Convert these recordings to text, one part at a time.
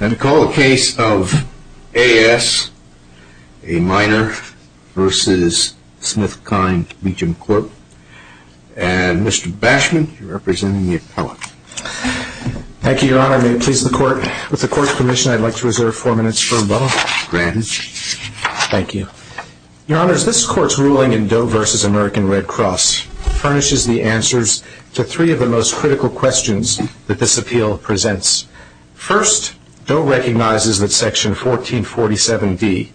And call the case of A.S., a minor, v. Smithkine Beecham Court. And Mr. Bashman, you're representing the appellate. Thank you, Your Honor. May it please the Court. With the Court's permission, I'd like to reserve four minutes for rebuttal. Granted. Thank you. Your Honors, this Court's ruling in Doe v. American Red Cross furnishes the answers to three of the most critical questions that this appeal presents. First, Doe recognizes that Section 1447B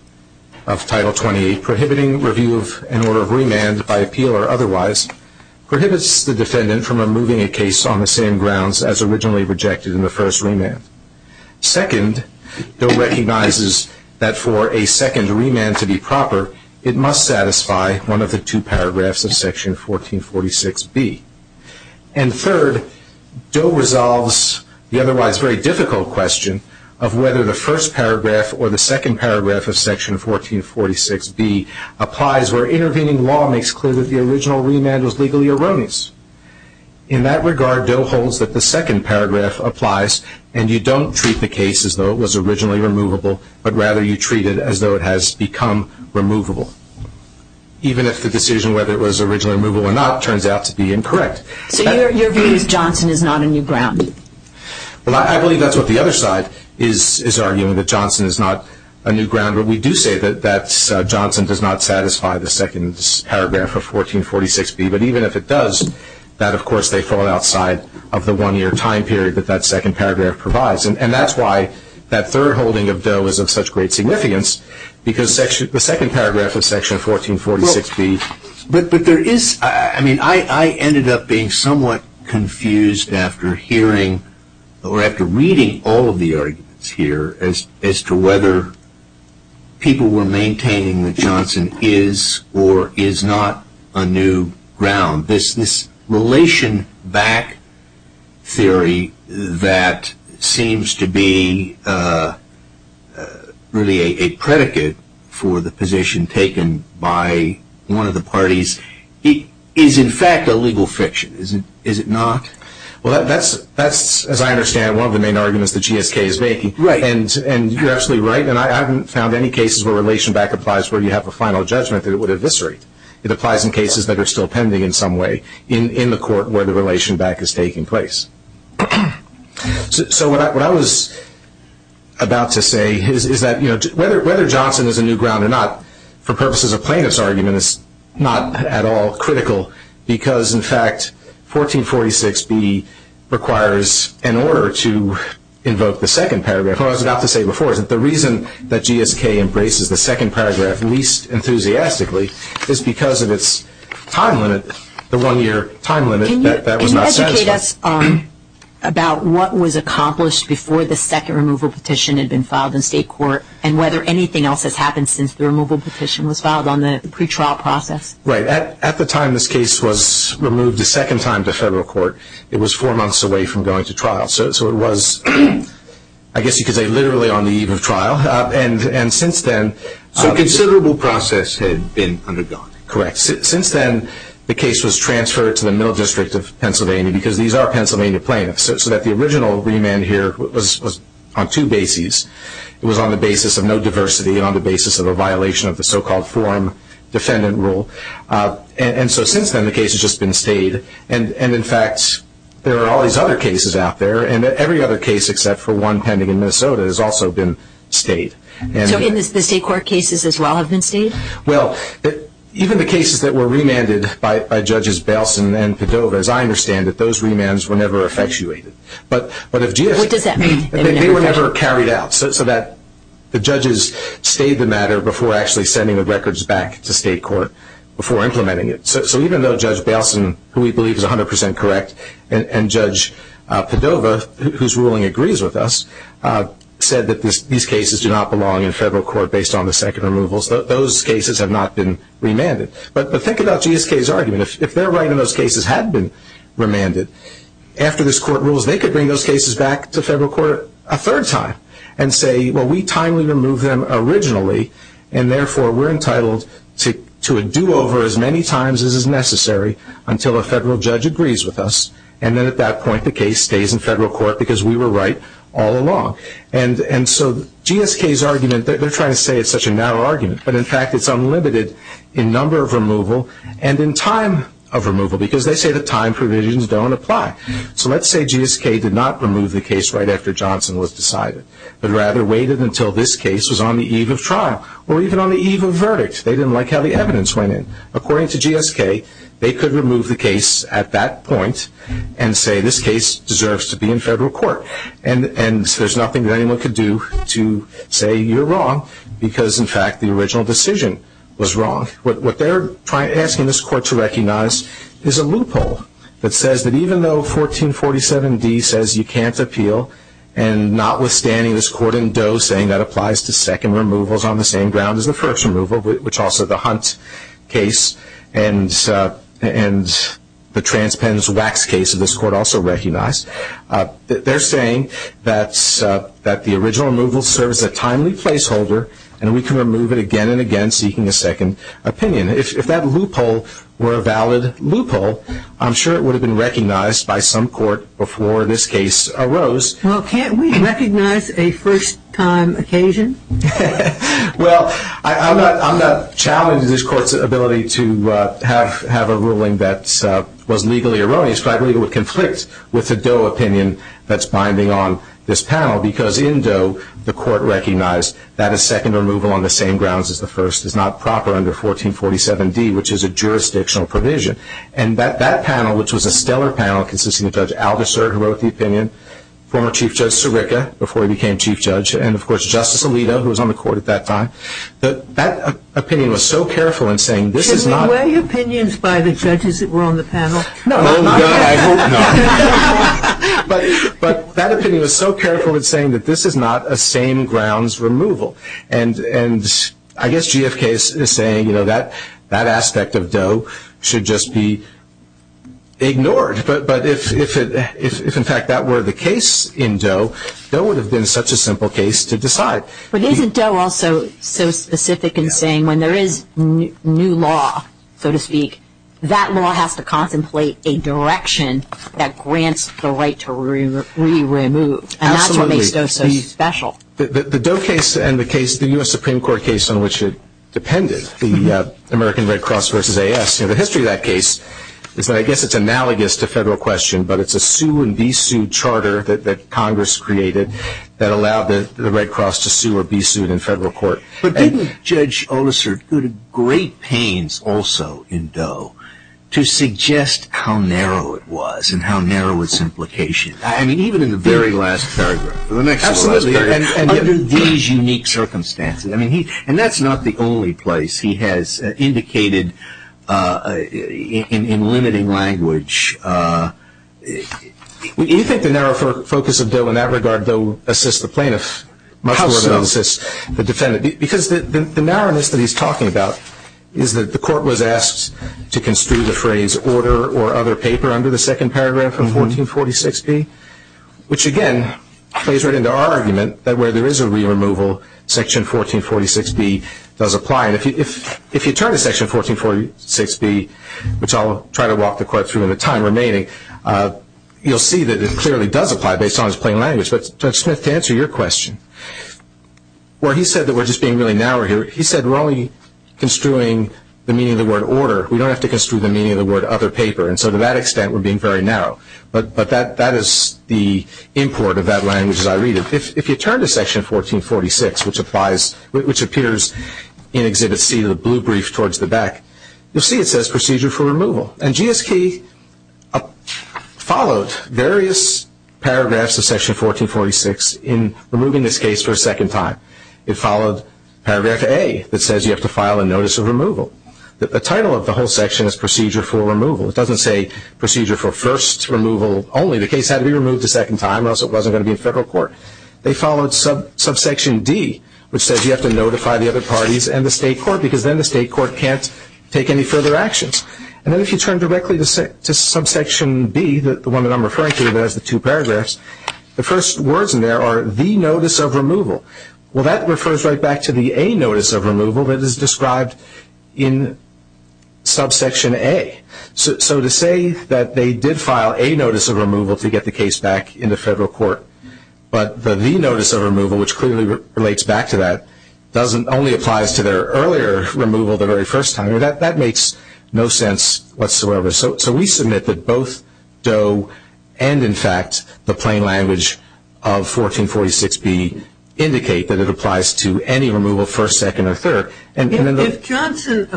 of Title 28, Prohibiting Review of an Order of Remand by Appeal or Otherwise, prohibits the defendant from removing a case on the same grounds as originally rejected in the first remand. Second, Doe recognizes that for a second remand to be proper, it must satisfy one of the two paragraphs of Section 1446B. And third, Doe resolves the otherwise very difficult question of whether the first paragraph or the second paragraph of Section 1446B applies where intervening law makes clear that the original remand was legally erroneous. In that regard, Doe holds that the second paragraph applies, and you don't treat the case as though it was originally removable, but rather you treat it as though it has become removable. Even if the decision whether it was originally removable or not turns out to be incorrect. So your view is Johnson is not a new ground? Well, I believe that's what the other side is arguing, that Johnson is not a new ground. But we do say that Johnson does not satisfy the second paragraph of 1446B. But even if it does, that, of course, they fall outside of the one-year time period that that second paragraph provides. And that's why that third holding of Doe is of such great significance, because the second paragraph of Section 1446B... But there is, I mean, I ended up being somewhat confused after hearing or after reading all of the arguments here as to whether people were maintaining that Johnson is or is not a new ground. This relation back theory that seems to be really a predicate for the position taken by one of the parties, is in fact a legal fiction, is it not? Well, that's, as I understand, one of the main arguments that GSK is making. And you're absolutely right, and I haven't found any cases where relation back applies where you have a final judgment that it would eviscerate. It applies in cases that are still pending in some way in the court where the relation back is taking place. So what I was about to say is that whether Johnson is a new ground or not, for purposes of plaintiff's argument, is not at all critical, because, in fact, 1446B requires an order to invoke the second paragraph. What I was about to say before is that the reason that GSK embraces the second paragraph least enthusiastically is because of its time limit, the one-year time limit that was not satisfied. Can you educate us about what was accomplished before the second removal petition had been filed in state court and whether anything else has happened since the removal petition was filed on the pretrial process? Right. At the time this case was removed a second time to federal court, it was four months away from going to trial. So it was, I guess you could say, literally on the eve of trial. So a considerable process had been undergone. Correct. Since then, the case was transferred to the Middle District of Pennsylvania, because these are Pennsylvania plaintiffs, so that the original remand here was on two bases. It was on the basis of no diversity and on the basis of a violation of the so-called forum defendant rule. And so since then, the case has just been stayed. And in fact, there are all these other cases out there, and every other case except for one pending in Minnesota has also been stayed. So the state court cases as well have been stayed? Well, even the cases that were remanded by Judges Belson and Padova, as I understand it, those remands were never effectuated. What does that mean? They were never carried out so that the judges stayed the matter before actually sending the records back to state court before implementing it. So even though Judge Belson, who we believe is 100% correct, and Judge Padova, whose ruling agrees with us, said that these cases do not belong in federal court based on the second removal, those cases have not been remanded. But think about GSK's argument. If they're right and those cases had been remanded, after this court rules they could bring those cases back to federal court a third time and say, well, we timely removed them originally, and therefore we're entitled to a do-over as many times as is necessary until a federal judge agrees with us, and then at that point the case stays in federal court because we were right all along. And so GSK's argument, they're trying to say it's such a narrow argument, but in fact it's unlimited in number of removal and in time of removal because they say the time provisions don't apply. So let's say GSK did not remove the case right after Johnson was decided, but rather waited until this case was on the eve of trial or even on the eve of verdict. They didn't like how the evidence went in. According to GSK, they could remove the case at that point and say this case deserves to be in federal court. And there's nothing that anyone could do to say you're wrong because, in fact, the original decision was wrong. What they're asking this court to recognize is a loophole that says that even though 1447D says you can't appeal and notwithstanding this court in Doe saying that applies to second removals on the same ground as the first removal, which also the Hunt case and the Transpens Wax case of this court also recognize, they're saying that the original removal serves a timely placeholder and we can remove it again and again seeking a second opinion. If that loophole were a valid loophole, I'm sure it would have been recognized by some court before this case arose. Well, can't we recognize a first-time occasion? Well, I'm not challenging this court's ability to have a ruling that was legally erroneous, but I believe it would conflict with the Doe opinion that's binding on this panel because in Doe the court recognized that a second removal on the same grounds as the first is not proper under 1447D, which is a jurisdictional provision. And that panel, which was a stellar panel, consisting of Judge Aldiser, who wrote the opinion, former Chief Judge Sirica, before he became Chief Judge, and, of course, Justice Alito, who was on the court at that time, that opinion was so careful in saying this is not – Can we weigh opinions by the judges that were on the panel? Oh, God, I hope not. But that opinion was so careful in saying that this is not a same-grounds removal. And I guess GFK is saying, you know, that aspect of Doe should just be ignored. But if, in fact, that were the case in Doe, Doe would have been such a simple case to decide. But isn't Doe also so specific in saying when there is new law, so to speak, that law has to contemplate a direction that grants the right to re-remove? Absolutely. And that's what makes Doe so special. The Doe case and the case, the U.S. Supreme Court case on which it depended, the American Red Cross versus AS, you know, the history of that case, is that I guess it's analogous to federal question, but it's a sue-and-be-sued charter that Congress created that allowed the Red Cross to sue or be sued in federal court. But didn't Judge Oleser go to great pains also in Doe to suggest how narrow it was and how narrow its implications? I mean, even in the very last paragraph. Absolutely. Under these unique circumstances. And that's not the only place he has indicated in limiting language. Do you think the narrow focus of Doe in that regard, Doe assists the plaintiff much more than it assists the defendant? How so? Because the narrowness that he's talking about is that the court was asked to construe the phrase order or other paper under the second paragraph of 1446B, which again plays right into our argument that where there is a re-removal, Section 1446B does apply. And if you turn to Section 1446B, which I'll try to walk the court through in the time remaining, you'll see that it clearly does apply based on its plain language, but Judge Smith, to answer your question, where he said that we're just being really narrow here, he said we're only construing the meaning of the word order. We don't have to construe the meaning of the word other paper, and so to that extent we're being very narrow. But that is the import of that language as I read it. If you turn to Section 1446, which appears in Exhibit C, the blue brief towards the back, you'll see it says procedure for removal. And GSK followed various paragraphs of Section 1446 in removing this case for a second time. It followed paragraph A that says you have to file a notice of removal. The title of the whole section is procedure for removal. It doesn't say procedure for first removal only. The case had to be removed a second time or else it wasn't going to be in federal court. They followed subsection D, which says you have to notify the other parties and the state court, because then the state court can't take any further actions. And then if you turn directly to subsection B, the one that I'm referring to, there's the two paragraphs, the first words in there are the notice of removal. Well, that refers right back to the A notice of removal that is described in subsection A. So to say that they did file a notice of removal to get the case back into federal court, but the the notice of removal, which clearly relates back to that, only applies to their earlier removal, the very first time, that makes no sense whatsoever. So we submit that both Doe and, in fact, the plain language of 1446B indicate that it applies to any removal, first, second, or third. If Johnson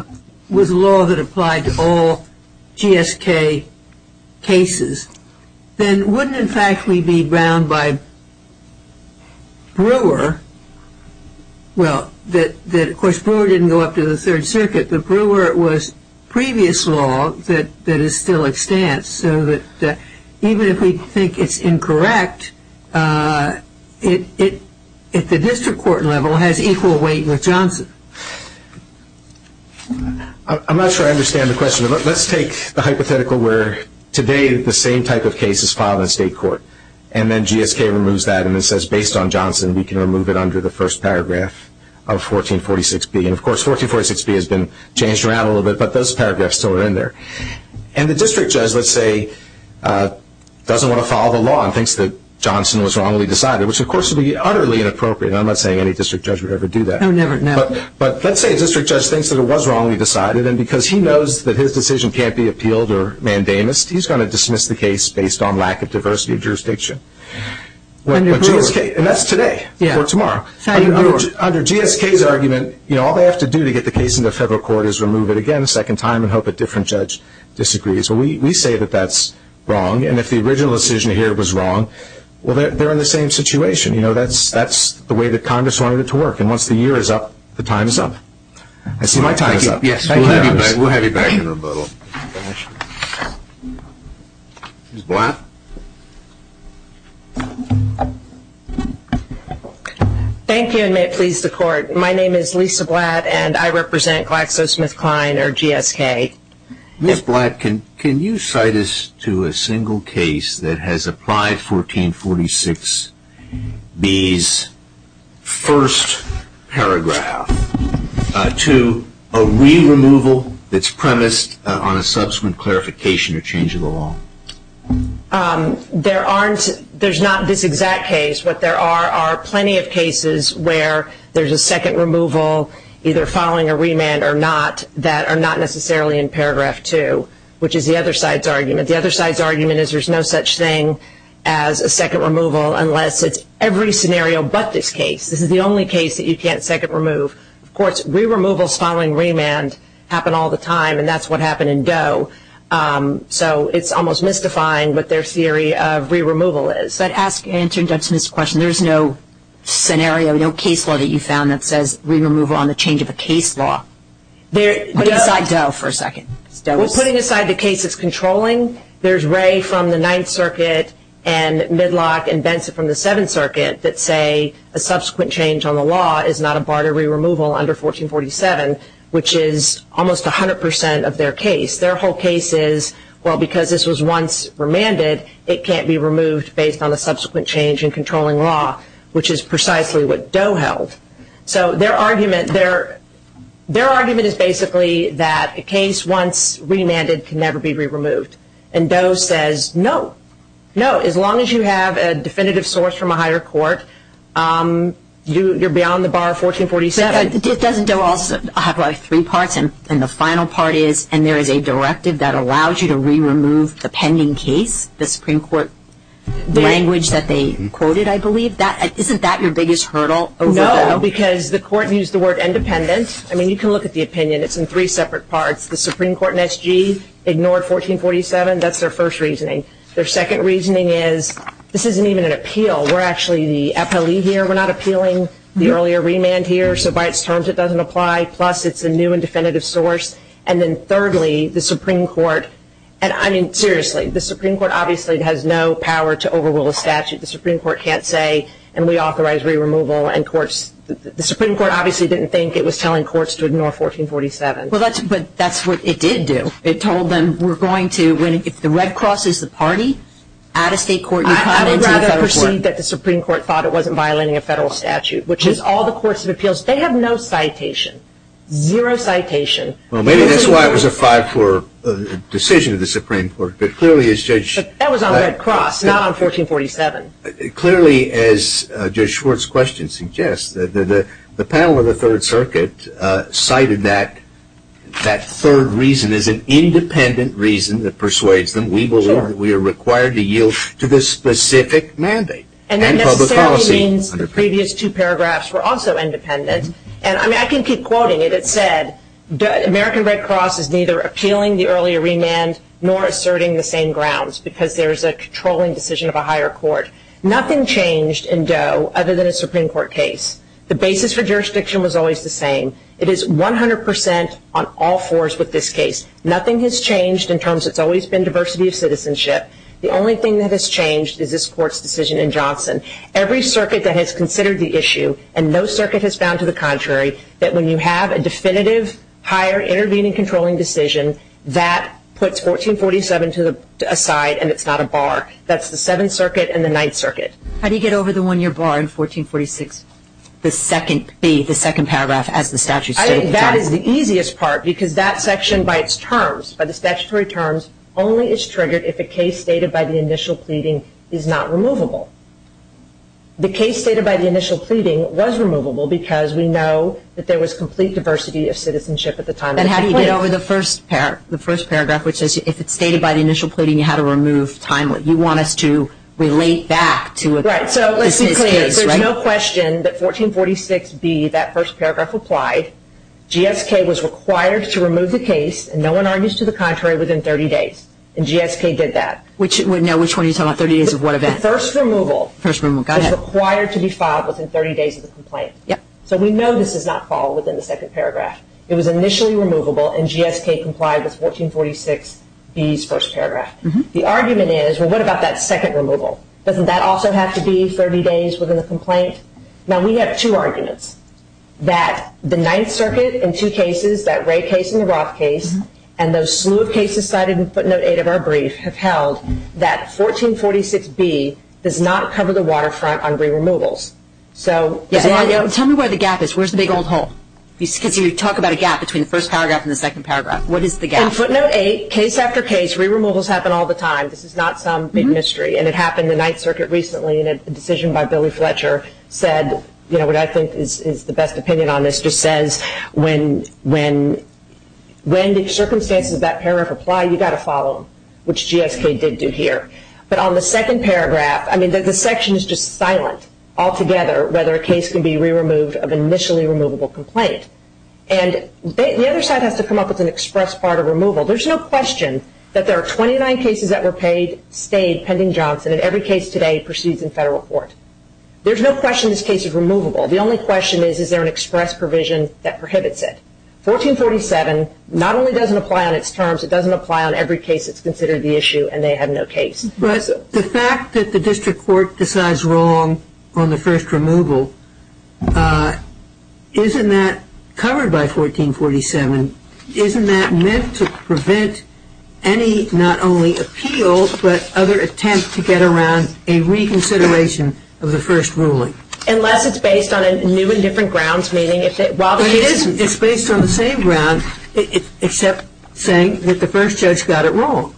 was a law that applied to all GSK cases, then wouldn't, in fact, we be bound by Brewer? Well, of course, Brewer didn't go up to the Third Circuit, but Brewer was previous law that is still extant, so that even if we think it's incorrect, it, at the district court level, has equal weight with Johnson. I'm not sure I understand the question. Let's take the hypothetical where today the same type of case is filed in state court, and then GSK removes that and then says, based on Johnson, we can remove it under the first paragraph of 1446B. And, of course, 1446B has been changed around a little bit, but those paragraphs still are in there. And the district judge, let's say, doesn't want to follow the law and thinks that Johnson was wrongly decided, which, of course, would be utterly inappropriate. I'm not saying any district judge would ever do that. Oh, never, never. But let's say a district judge thinks that it was wrongly decided, and because he knows that his decision can't be appealed or mandamus, he's going to dismiss the case based on lack of diversity of jurisdiction. Under Brewer. And that's today or tomorrow. Under GSK's argument, all they have to do to get the case into federal court is remove it again a second time and hope a different judge disagrees. But we say that that's wrong. And if the original decision here was wrong, well, they're in the same situation. You know, that's the way that Congress wanted it to work. And once the year is up, the time is up. I see my time is up. Thank you. We'll have you back in a little. Ms. Blatt. Thank you, and may it please the Court. My name is Lisa Blatt, and I represent GlaxoSmithKline or GSK. Ms. Blatt, can you cite us to a single case that has applied 1446B's first paragraph to a re-removal that's premised on a subsequent clarification or change of the law? There's not this exact case. What there are are plenty of cases where there's a second removal either following a remand or not that are not necessarily in paragraph two, which is the other side's argument. The other side's argument is there's no such thing as a second removal unless it's every scenario but this case. This is the only case that you can't second remove. Of course, re-removals following remand happen all the time, and that's what happened in Doe. So it's almost mystifying what their theory of re-removal is. I'd like to answer Doug Smith's question. There's no scenario, no case law that you found that says re-removal on the change of a case law. Put aside Doe for a second. Putting aside the cases controlling, there's Ray from the Ninth Circuit and Midlock and Benson from the Seventh Circuit that say a subsequent change on the law is not a bar to re-removal under 1447, which is almost 100% of their case. Their whole case is, well, because this was once remanded, it can't be removed based on the subsequent change in controlling law, which is precisely what Doe held. So their argument is basically that a case once remanded can never be re-removed, and Doe says no, no. As long as you have a definitive source from a higher court, you're beyond the bar of 1447. It doesn't Doe also have like three parts, and the final part is, and there is a directive that allows you to re-remove the pending case, the Supreme Court language that they quoted, I believe. Isn't that your biggest hurdle? No, because the court used the word independent. I mean, you can look at the opinion. It's in three separate parts. The Supreme Court in SG ignored 1447. That's their first reasoning. Their second reasoning is this isn't even an appeal. We're actually the appellee here. We're not appealing the earlier remand here. So by its terms, it doesn't apply. Plus, it's a new and definitive source. And then thirdly, the Supreme Court, I mean, seriously, the Supreme Court obviously has no power to overrule a statute. The Supreme Court can't say, and we authorize re-removal. The Supreme Court obviously didn't think it was telling courts to ignore 1447. But that's what it did do. It told them we're going to, if the Red Cross is the party, at a state court, you come into the federal court. I would rather proceed that the Supreme Court thought it wasn't violating a federal statute, which is all the courts of appeals, they have no citation, zero citation. Well, maybe that's why it was a 5-4 decision of the Supreme Court. But clearly, as Judge – That was on Red Cross, not on 1447. Clearly, as Judge Schwartz's question suggests, the panel of the Third Circuit cited that third reason as an independent reason that persuades them we believe we are required to yield to this specific mandate. And that necessarily means the previous two paragraphs were also independent. And I mean, I can keep quoting it. It said, American Red Cross is neither appealing the earlier remand nor asserting the same grounds because there is a controlling decision of a higher court. Nothing changed in Doe other than a Supreme Court case. The basis for jurisdiction was always the same. It is 100% on all fours with this case. Nothing has changed in terms – it's always been diversity of citizenship. The only thing that has changed is this Court's decision in Johnson. Every circuit that has considered the issue, and no circuit has found to the contrary, that when you have a definitive higher intervening controlling decision, that puts 1447 aside and it's not a bar. That's the Seventh Circuit and the Ninth Circuit. How do you get over the one-year bar in 1446? The second B, the second paragraph, as the statute states. I think that is the easiest part because that section by its terms, by the statutory terms, only is triggered if a case stated by the initial pleading is not removable. The case stated by the initial pleading was removable because we know that there was complete diversity of citizenship at the time. And how do you get over the first paragraph, which says if it's stated by the initial pleading, you had to remove time. You want us to relate back to this case, right? Right, so let's be clear. There's no question that 1446B, that first paragraph, applied. GSK was required to remove the case, and no one argues to the contrary, within 30 days. And GSK did that. Which one are you talking about, 30 days of what event? The first removal. First removal, got it. Is required to be filed within 30 days of the complaint. Yep. So we know this is not filed within the second paragraph. It was initially removable and GSK complied with 1446B's first paragraph. The argument is, well, what about that second removal? Doesn't that also have to be 30 days within the complaint? Now, we have two arguments. That the Ninth Circuit, in two cases, that Wray case and the Roth case, and those slew of cases cited in footnote 8 of our brief, have held that 1446B does not cover the waterfront on re-removals. Tell me where the gap is. Where's the big old hole? Because you talk about a gap between the first paragraph and the second paragraph. What is the gap? In footnote 8, case after case, re-removals happen all the time. This is not some big mystery. And it happened in the Ninth Circuit recently, and a decision by Billy Fletcher said, you know, what I think is the best opinion on this, just says when the circumstances of that paragraph apply, you've got to follow them, which GSK did do here. But on the second paragraph, I mean, the section is just silent altogether whether a case can be re-removed of an initially removable complaint. And the other side has to come up with an express part of removal. There's no question that there are 29 cases that were paid, stayed, pending Johnson, and every case today proceeds in federal court. There's no question this case is removable. The only question is, is there an express provision that prohibits it? 1447 not only doesn't apply on its terms, it doesn't apply on every case that's considered the issue, and they have no case. But the fact that the district court decides wrong on the first removal, isn't that covered by 1447? Isn't that meant to prevent any not only appeals, but other attempts to get around a reconsideration of the first ruling? Unless it's based on a new and different grounds, meaning if it – But it isn't. It's based on the same grounds, except saying that the first judge got it wrong.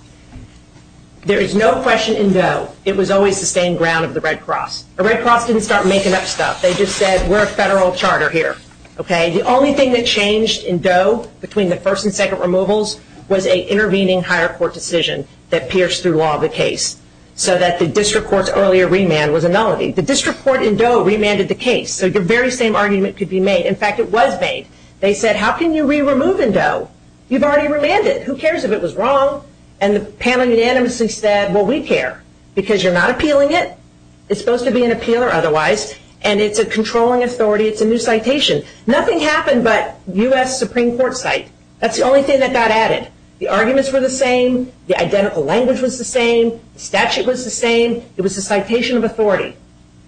There is no question in Doe it was always the same ground of the Red Cross. The Red Cross didn't start making up stuff. They just said, we're a federal charter here, okay? The only thing that changed in Doe between the first and second removals was an intervening higher court decision that pierced through all the case, so that the district court's earlier remand was a nullity. The district court in Doe remanded the case, so your very same argument could be made. In fact, it was made. They said, how can you re-remove in Doe? You've already remanded. Who cares if it was wrong? And the panel unanimously said, well, we care, because you're not appealing it. It's supposed to be an appeal or otherwise, and it's a controlling authority. It's a new citation. Nothing happened but U.S. Supreme Court cite. That's the only thing that got added. The arguments were the same. The identical language was the same. The statute was the same. It was a citation of authority.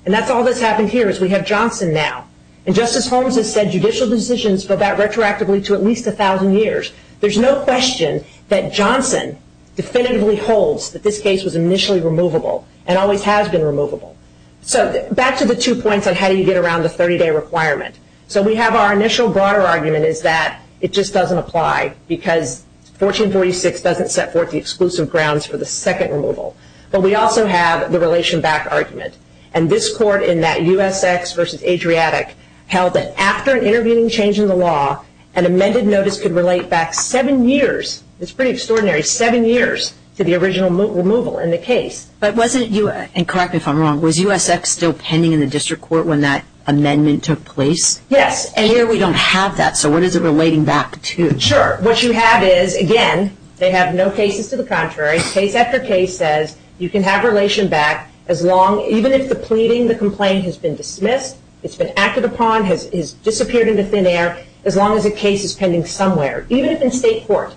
And that's all that's happened here, is we have Johnson now. And Justice Holmes has said judicial decisions go back retroactively to at least 1,000 years. There's no question that Johnson definitively holds that this case was initially removable and always has been removable. So back to the two points on how do you get around the 30-day requirement. So we have our initial broader argument is that it just doesn't apply, because 1446 doesn't set forth the exclusive grounds for the second removal. But we also have the relation back argument. And this court in that USX versus Adriatic held that after an intervening change in the law, an amended notice could relate back seven years. It's pretty extraordinary, seven years to the original removal in the case. But wasn't you, and correct me if I'm wrong, was USX still pending in the district court when that amendment took place? Yes. And here we don't have that. So what is it relating back to? Sure. What you have is, again, they have no cases to the contrary. Case after case says you can have relation back as long, even if the pleading, the complaint has been dismissed, it's been acted upon, has disappeared into thin air, as long as a case is pending somewhere, even if in state court.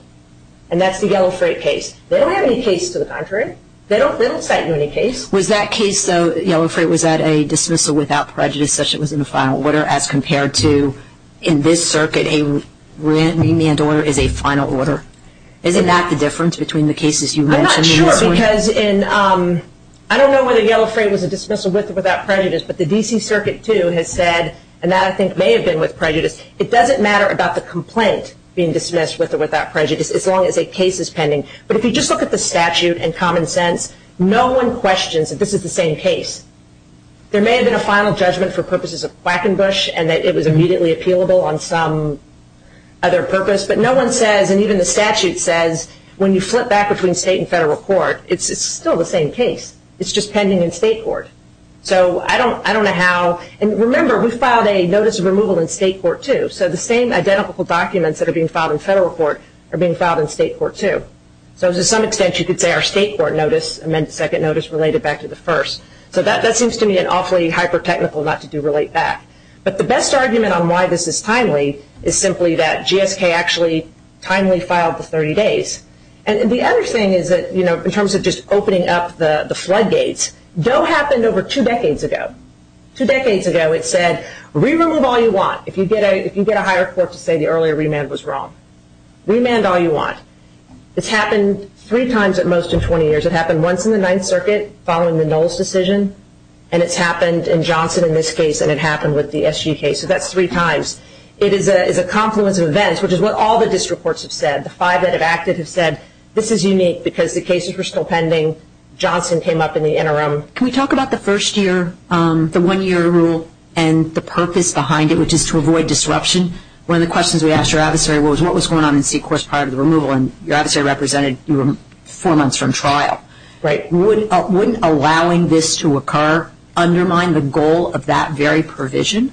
And that's the Yellow Freight case. They don't have any case to the contrary. They don't cite you any case. Was that case, though, Yellow Freight, was that a dismissal without prejudice, such that it was in the final order, as compared to in this circuit, a remand order is a final order? Isn't that the difference between the cases you mentioned? I'm not sure, because I don't know whether Yellow Freight was a dismissal with or without prejudice, but the D.C. Circuit, too, has said, and that I think may have been with prejudice, it doesn't matter about the complaint being dismissed with or without prejudice, as long as a case is pending. But if you just look at the statute and common sense, no one questions that this is the same case. There may have been a final judgment for purposes of Quackenbush and that it was immediately appealable on some other purpose, but no one says, and even the statute says, when you flip back between state and federal court, it's still the same case. It's just pending in state court. So I don't know how. And remember, we filed a notice of removal in state court, too, so the same identical documents that are being filed in federal court are being filed in state court, too. So to some extent, you could say our state court notice, second notice, related back to the first. So that seems to me an awfully hyper-technical not to do relate back. But the best argument on why this is timely is simply that GSK actually timely filed the 30 days. And the other thing is that, you know, in terms of just opening up the floodgates, DOE happened over two decades ago. Two decades ago, it said, re-remove all you want. If you get a higher court to say the earlier remand was wrong, remand all you want. It's happened three times at most in 20 years. It happened once in the Ninth Circuit following the Knowles decision, and it's happened in Johnson in this case, and it happened with the SGK. So that's three times. It is a confluence of events, which is what all the district courts have said. The five that have acted have said this is unique because the cases were still pending. Johnson came up in the interim. Can we talk about the first year, the one-year rule, and the purpose behind it, which is to avoid disruption? One of the questions we asked your adversary was, what was going on in C-course prior to the removal? And your adversary represented you were four months from trial. Right. Wouldn't allowing this to occur undermine the goal of that very provision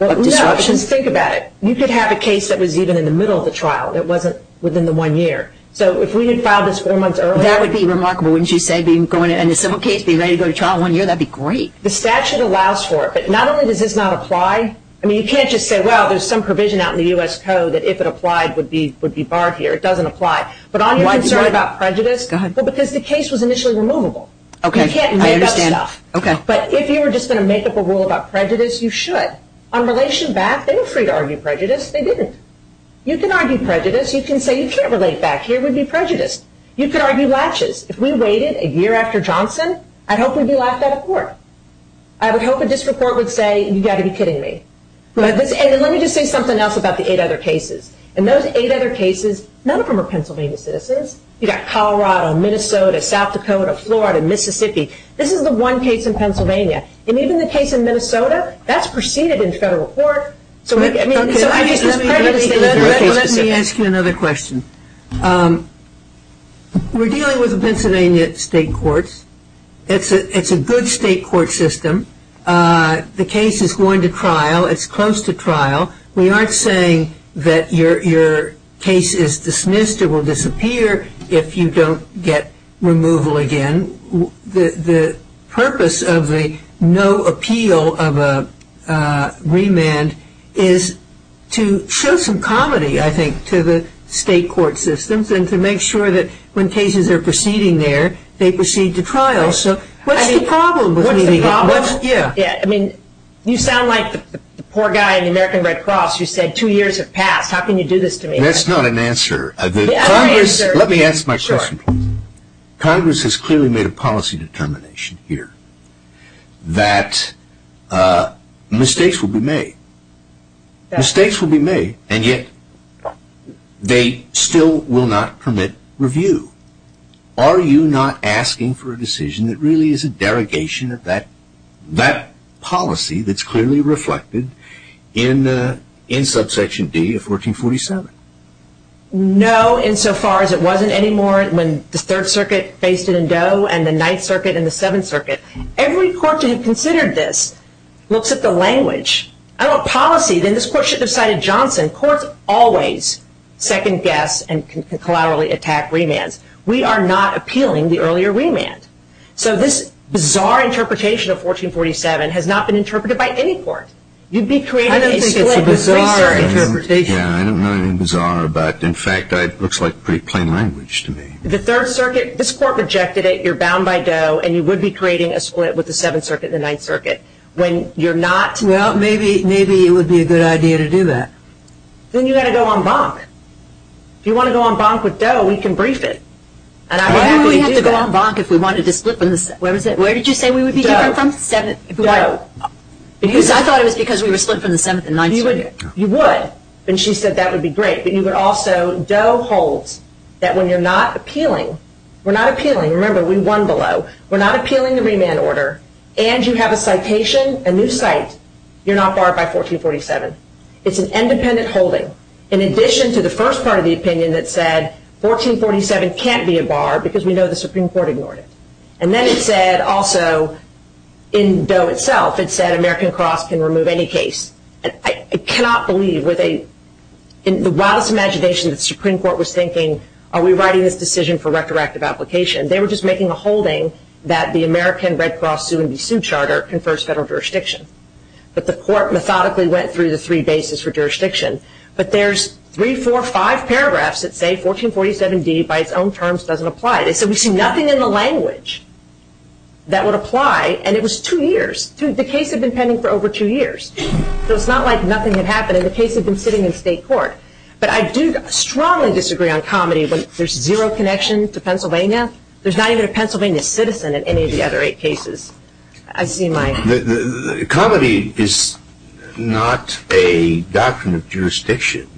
of disruption? Think about it. You could have a case that was even in the middle of the trial, that wasn't within the one year. So if we had filed this four months earlier. That would be remarkable, wouldn't you say, being going into a civil case, being ready to go to trial in one year. That would be great. The statute allows for it. But not only does this not apply. I mean, you can't just say, well, there's some provision out in the U.S. Code that if it applied would be barred here. It doesn't apply. But on your concern about prejudice. Go ahead. Well, because the case was initially removable. Okay. I understand. But if you were just going to make up a rule about prejudice, you should. On relation back, they were free to argue prejudice. They didn't. You can argue prejudice. You can say you can't relate back here. It would be prejudice. You could argue latches. If we waited a year after Johnson, I'd hope we'd be laughed out of court. I would hope a district court would say, you've got to be kidding me. And let me just say something else about the eight other cases. In those eight other cases, none of them are Pennsylvania citizens. You've got Colorado, Minnesota, South Dakota, Florida, Mississippi. This is the one case in Pennsylvania. And even the case in Minnesota, that's preceded in federal court. Let me ask you another question. We're dealing with the Pennsylvania state courts. It's a good state court system. The case is going to trial. It's close to trial. We aren't saying that your case is dismissed or will disappear if you don't get removal again. The purpose of the no appeal of a remand is to show some comedy, I think, to the state court systems and to make sure that when cases are proceeding there, they proceed to trial. So what's the problem? What's the problem? Yeah. I mean, you sound like the poor guy in the American Red Cross who said two years have passed. How can you do this to me? That's not an answer. Let me answer my question. Congress has clearly made a policy determination here that mistakes will be made. Mistakes will be made, and yet they still will not permit review. Are you not asking for a decision that really is a derogation of that policy that's clearly reflected in subsection D of 1447? No, insofar as it wasn't anymore when the Third Circuit faced it in Doe and the Ninth Circuit and the Seventh Circuit. Every court to have considered this looks at the language. I don't want policy. Then this court shouldn't have cited Johnson. Courts always second-guess and can collaterally attack remands. We are not appealing the earlier remand. So this bizarre interpretation of 1447 has not been interpreted by any court. You'd be creating a split. I don't think it's a bizarre interpretation. Yeah, I don't know anything bizarre about it. In fact, it looks like pretty plain language to me. The Third Circuit, this court rejected it. You're bound by Doe, and you would be creating a split with the Seventh Circuit and the Ninth Circuit when you're not. Well, maybe it would be a good idea to do that. Then you've got to go en banc. If you want to go en banc with Doe, we can brief it. Why do we have to go en banc if we wanted to split from the Seventh? Where did you say we would be different from? Doe. Doe. Because I thought it was because we were split from the Seventh and Ninth Circuit. You would, and she said that would be great, but you would also. Doe holds that when you're not appealing, we're not appealing. Remember, we won below. We're not appealing the remand order, and you have a citation, a new site, you're not barred by 1447. It's an independent holding. In addition to the first part of the opinion that said 1447 can't be a bar because we know the Supreme Court ignored it. And then it said also in Doe itself, it said American Cross can remove any case. I cannot believe with the wildest imagination that the Supreme Court was thinking, are we writing this decision for retroactive application? They were just making a holding that the American Red Cross Sue and Be Sued Charter confers federal jurisdiction. But the court methodically went through the three bases for jurisdiction. But there's three, four, five paragraphs that say 1447D by its own terms doesn't apply. They said we see nothing in the language that would apply, and it was two years. The case had been pending for over two years. So it's not like nothing had happened, and the case had been sitting in state court. But I do strongly disagree on comedy when there's zero connection to Pennsylvania. There's not even a Pennsylvania citizen in any of the other eight cases. Comedy is not a doctrine of jurisdiction.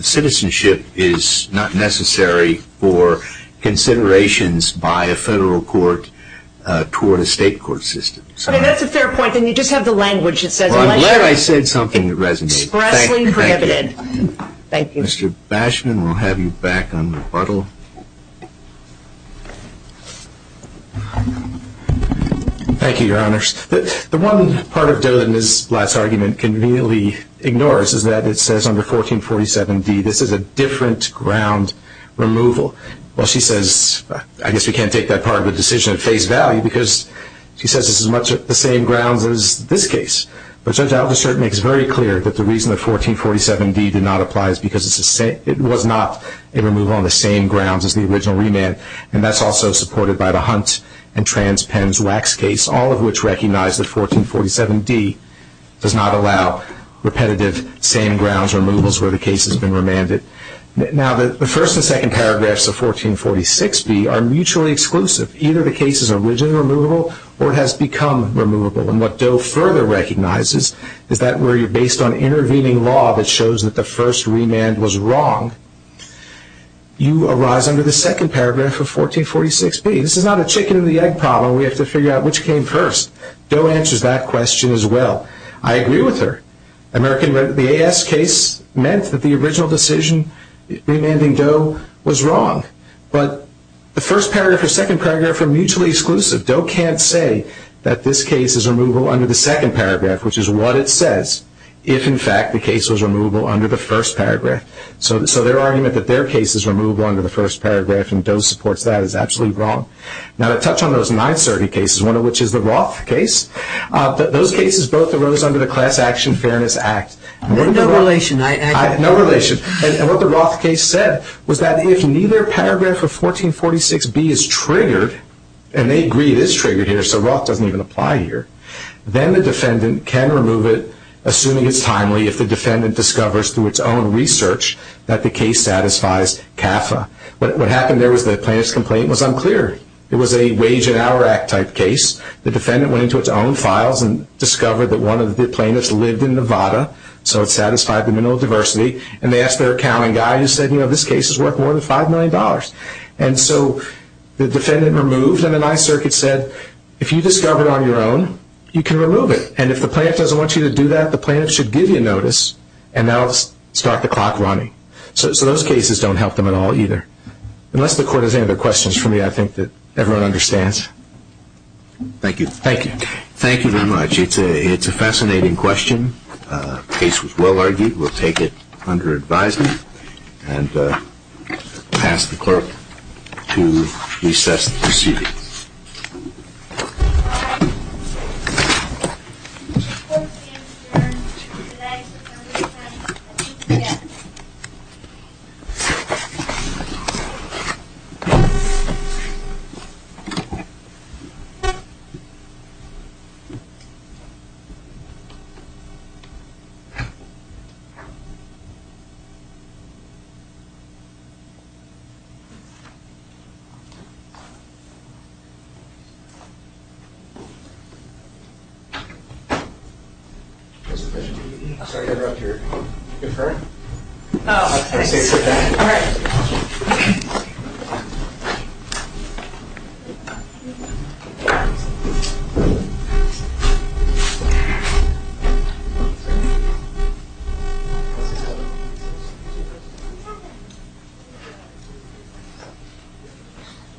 Citizenship is not necessary for considerations by a federal court toward a state court system. That's a fair point, and you just have the language that says election. I'm glad I said something that resonates. It's expressly prohibited. Thank you. Mr. Bashman, we'll have you back on rebuttal. Thank you, Your Honors. The one part of Ms. Blatt's argument can really ignore is that it says under 1447D this is a different ground removal. Well, she says I guess we can't take that part of the decision at face value because she says this is much the same grounds as this case. But Judge Aldershot makes very clear that the reason that 1447D did not apply is because it was not a removal on the same grounds as the original remand, and that's also supported by the Hunt and Transpens wax case, all of which recognize that 1447D does not allow repetitive same grounds removals where the case has been remanded. Now, the first and second paragraphs of 1446B are mutually exclusive. Either the case is original removal or it has become removable. And what Doe further recognizes is that where you're based on intervening law that shows that the first remand was wrong, you arise under the second paragraph of 1446B. This is not a chicken or the egg problem. We have to figure out which came first. Doe answers that question as well. I agree with her. The AS case meant that the original decision remanding Doe was wrong. But the first paragraph or second paragraph are mutually exclusive. Doe can't say that this case is removable under the second paragraph, which is what it says if, in fact, the case was removable under the first paragraph. So their argument that their case is removable under the first paragraph and Doe supports that is absolutely wrong. Now, to touch on those nine surrogate cases, one of which is the Roth case, those cases both arose under the Class Action Fairness Act. No relation. No relation. And what the Roth case said was that if neither paragraph of 1446B is triggered and they agree it is triggered here so Roth doesn't even apply here, then the defendant can remove it assuming it's timely if the defendant discovers through its own research that the case satisfies CAFA. What happened there was the plaintiff's complaint was unclear. It was a Wage and Hour Act type case. The defendant went into its own files and discovered that one of the plaintiffs lived in Nevada, so it satisfied the minimal diversity, and they asked their accounting guy who said, you know, this case is worth more than $5 million. And so the defendant removed it, and the ninth surrogate said, if you discover it on your own, you can remove it. And if the plaintiff doesn't want you to do that, the plaintiff should give you notice and that will start the clock running. So those cases don't help them at all either. Unless the Court has any other questions for me, I think that everyone understands. Thank you. Thank you. Thank you very much. It's a fascinating question. The case was well argued. We'll take it under advisement and pass the Clerk to recess the proceedings. Thank you. Mr. Bishop, sorry to interrupt your conferring. Oh, thanks. All right.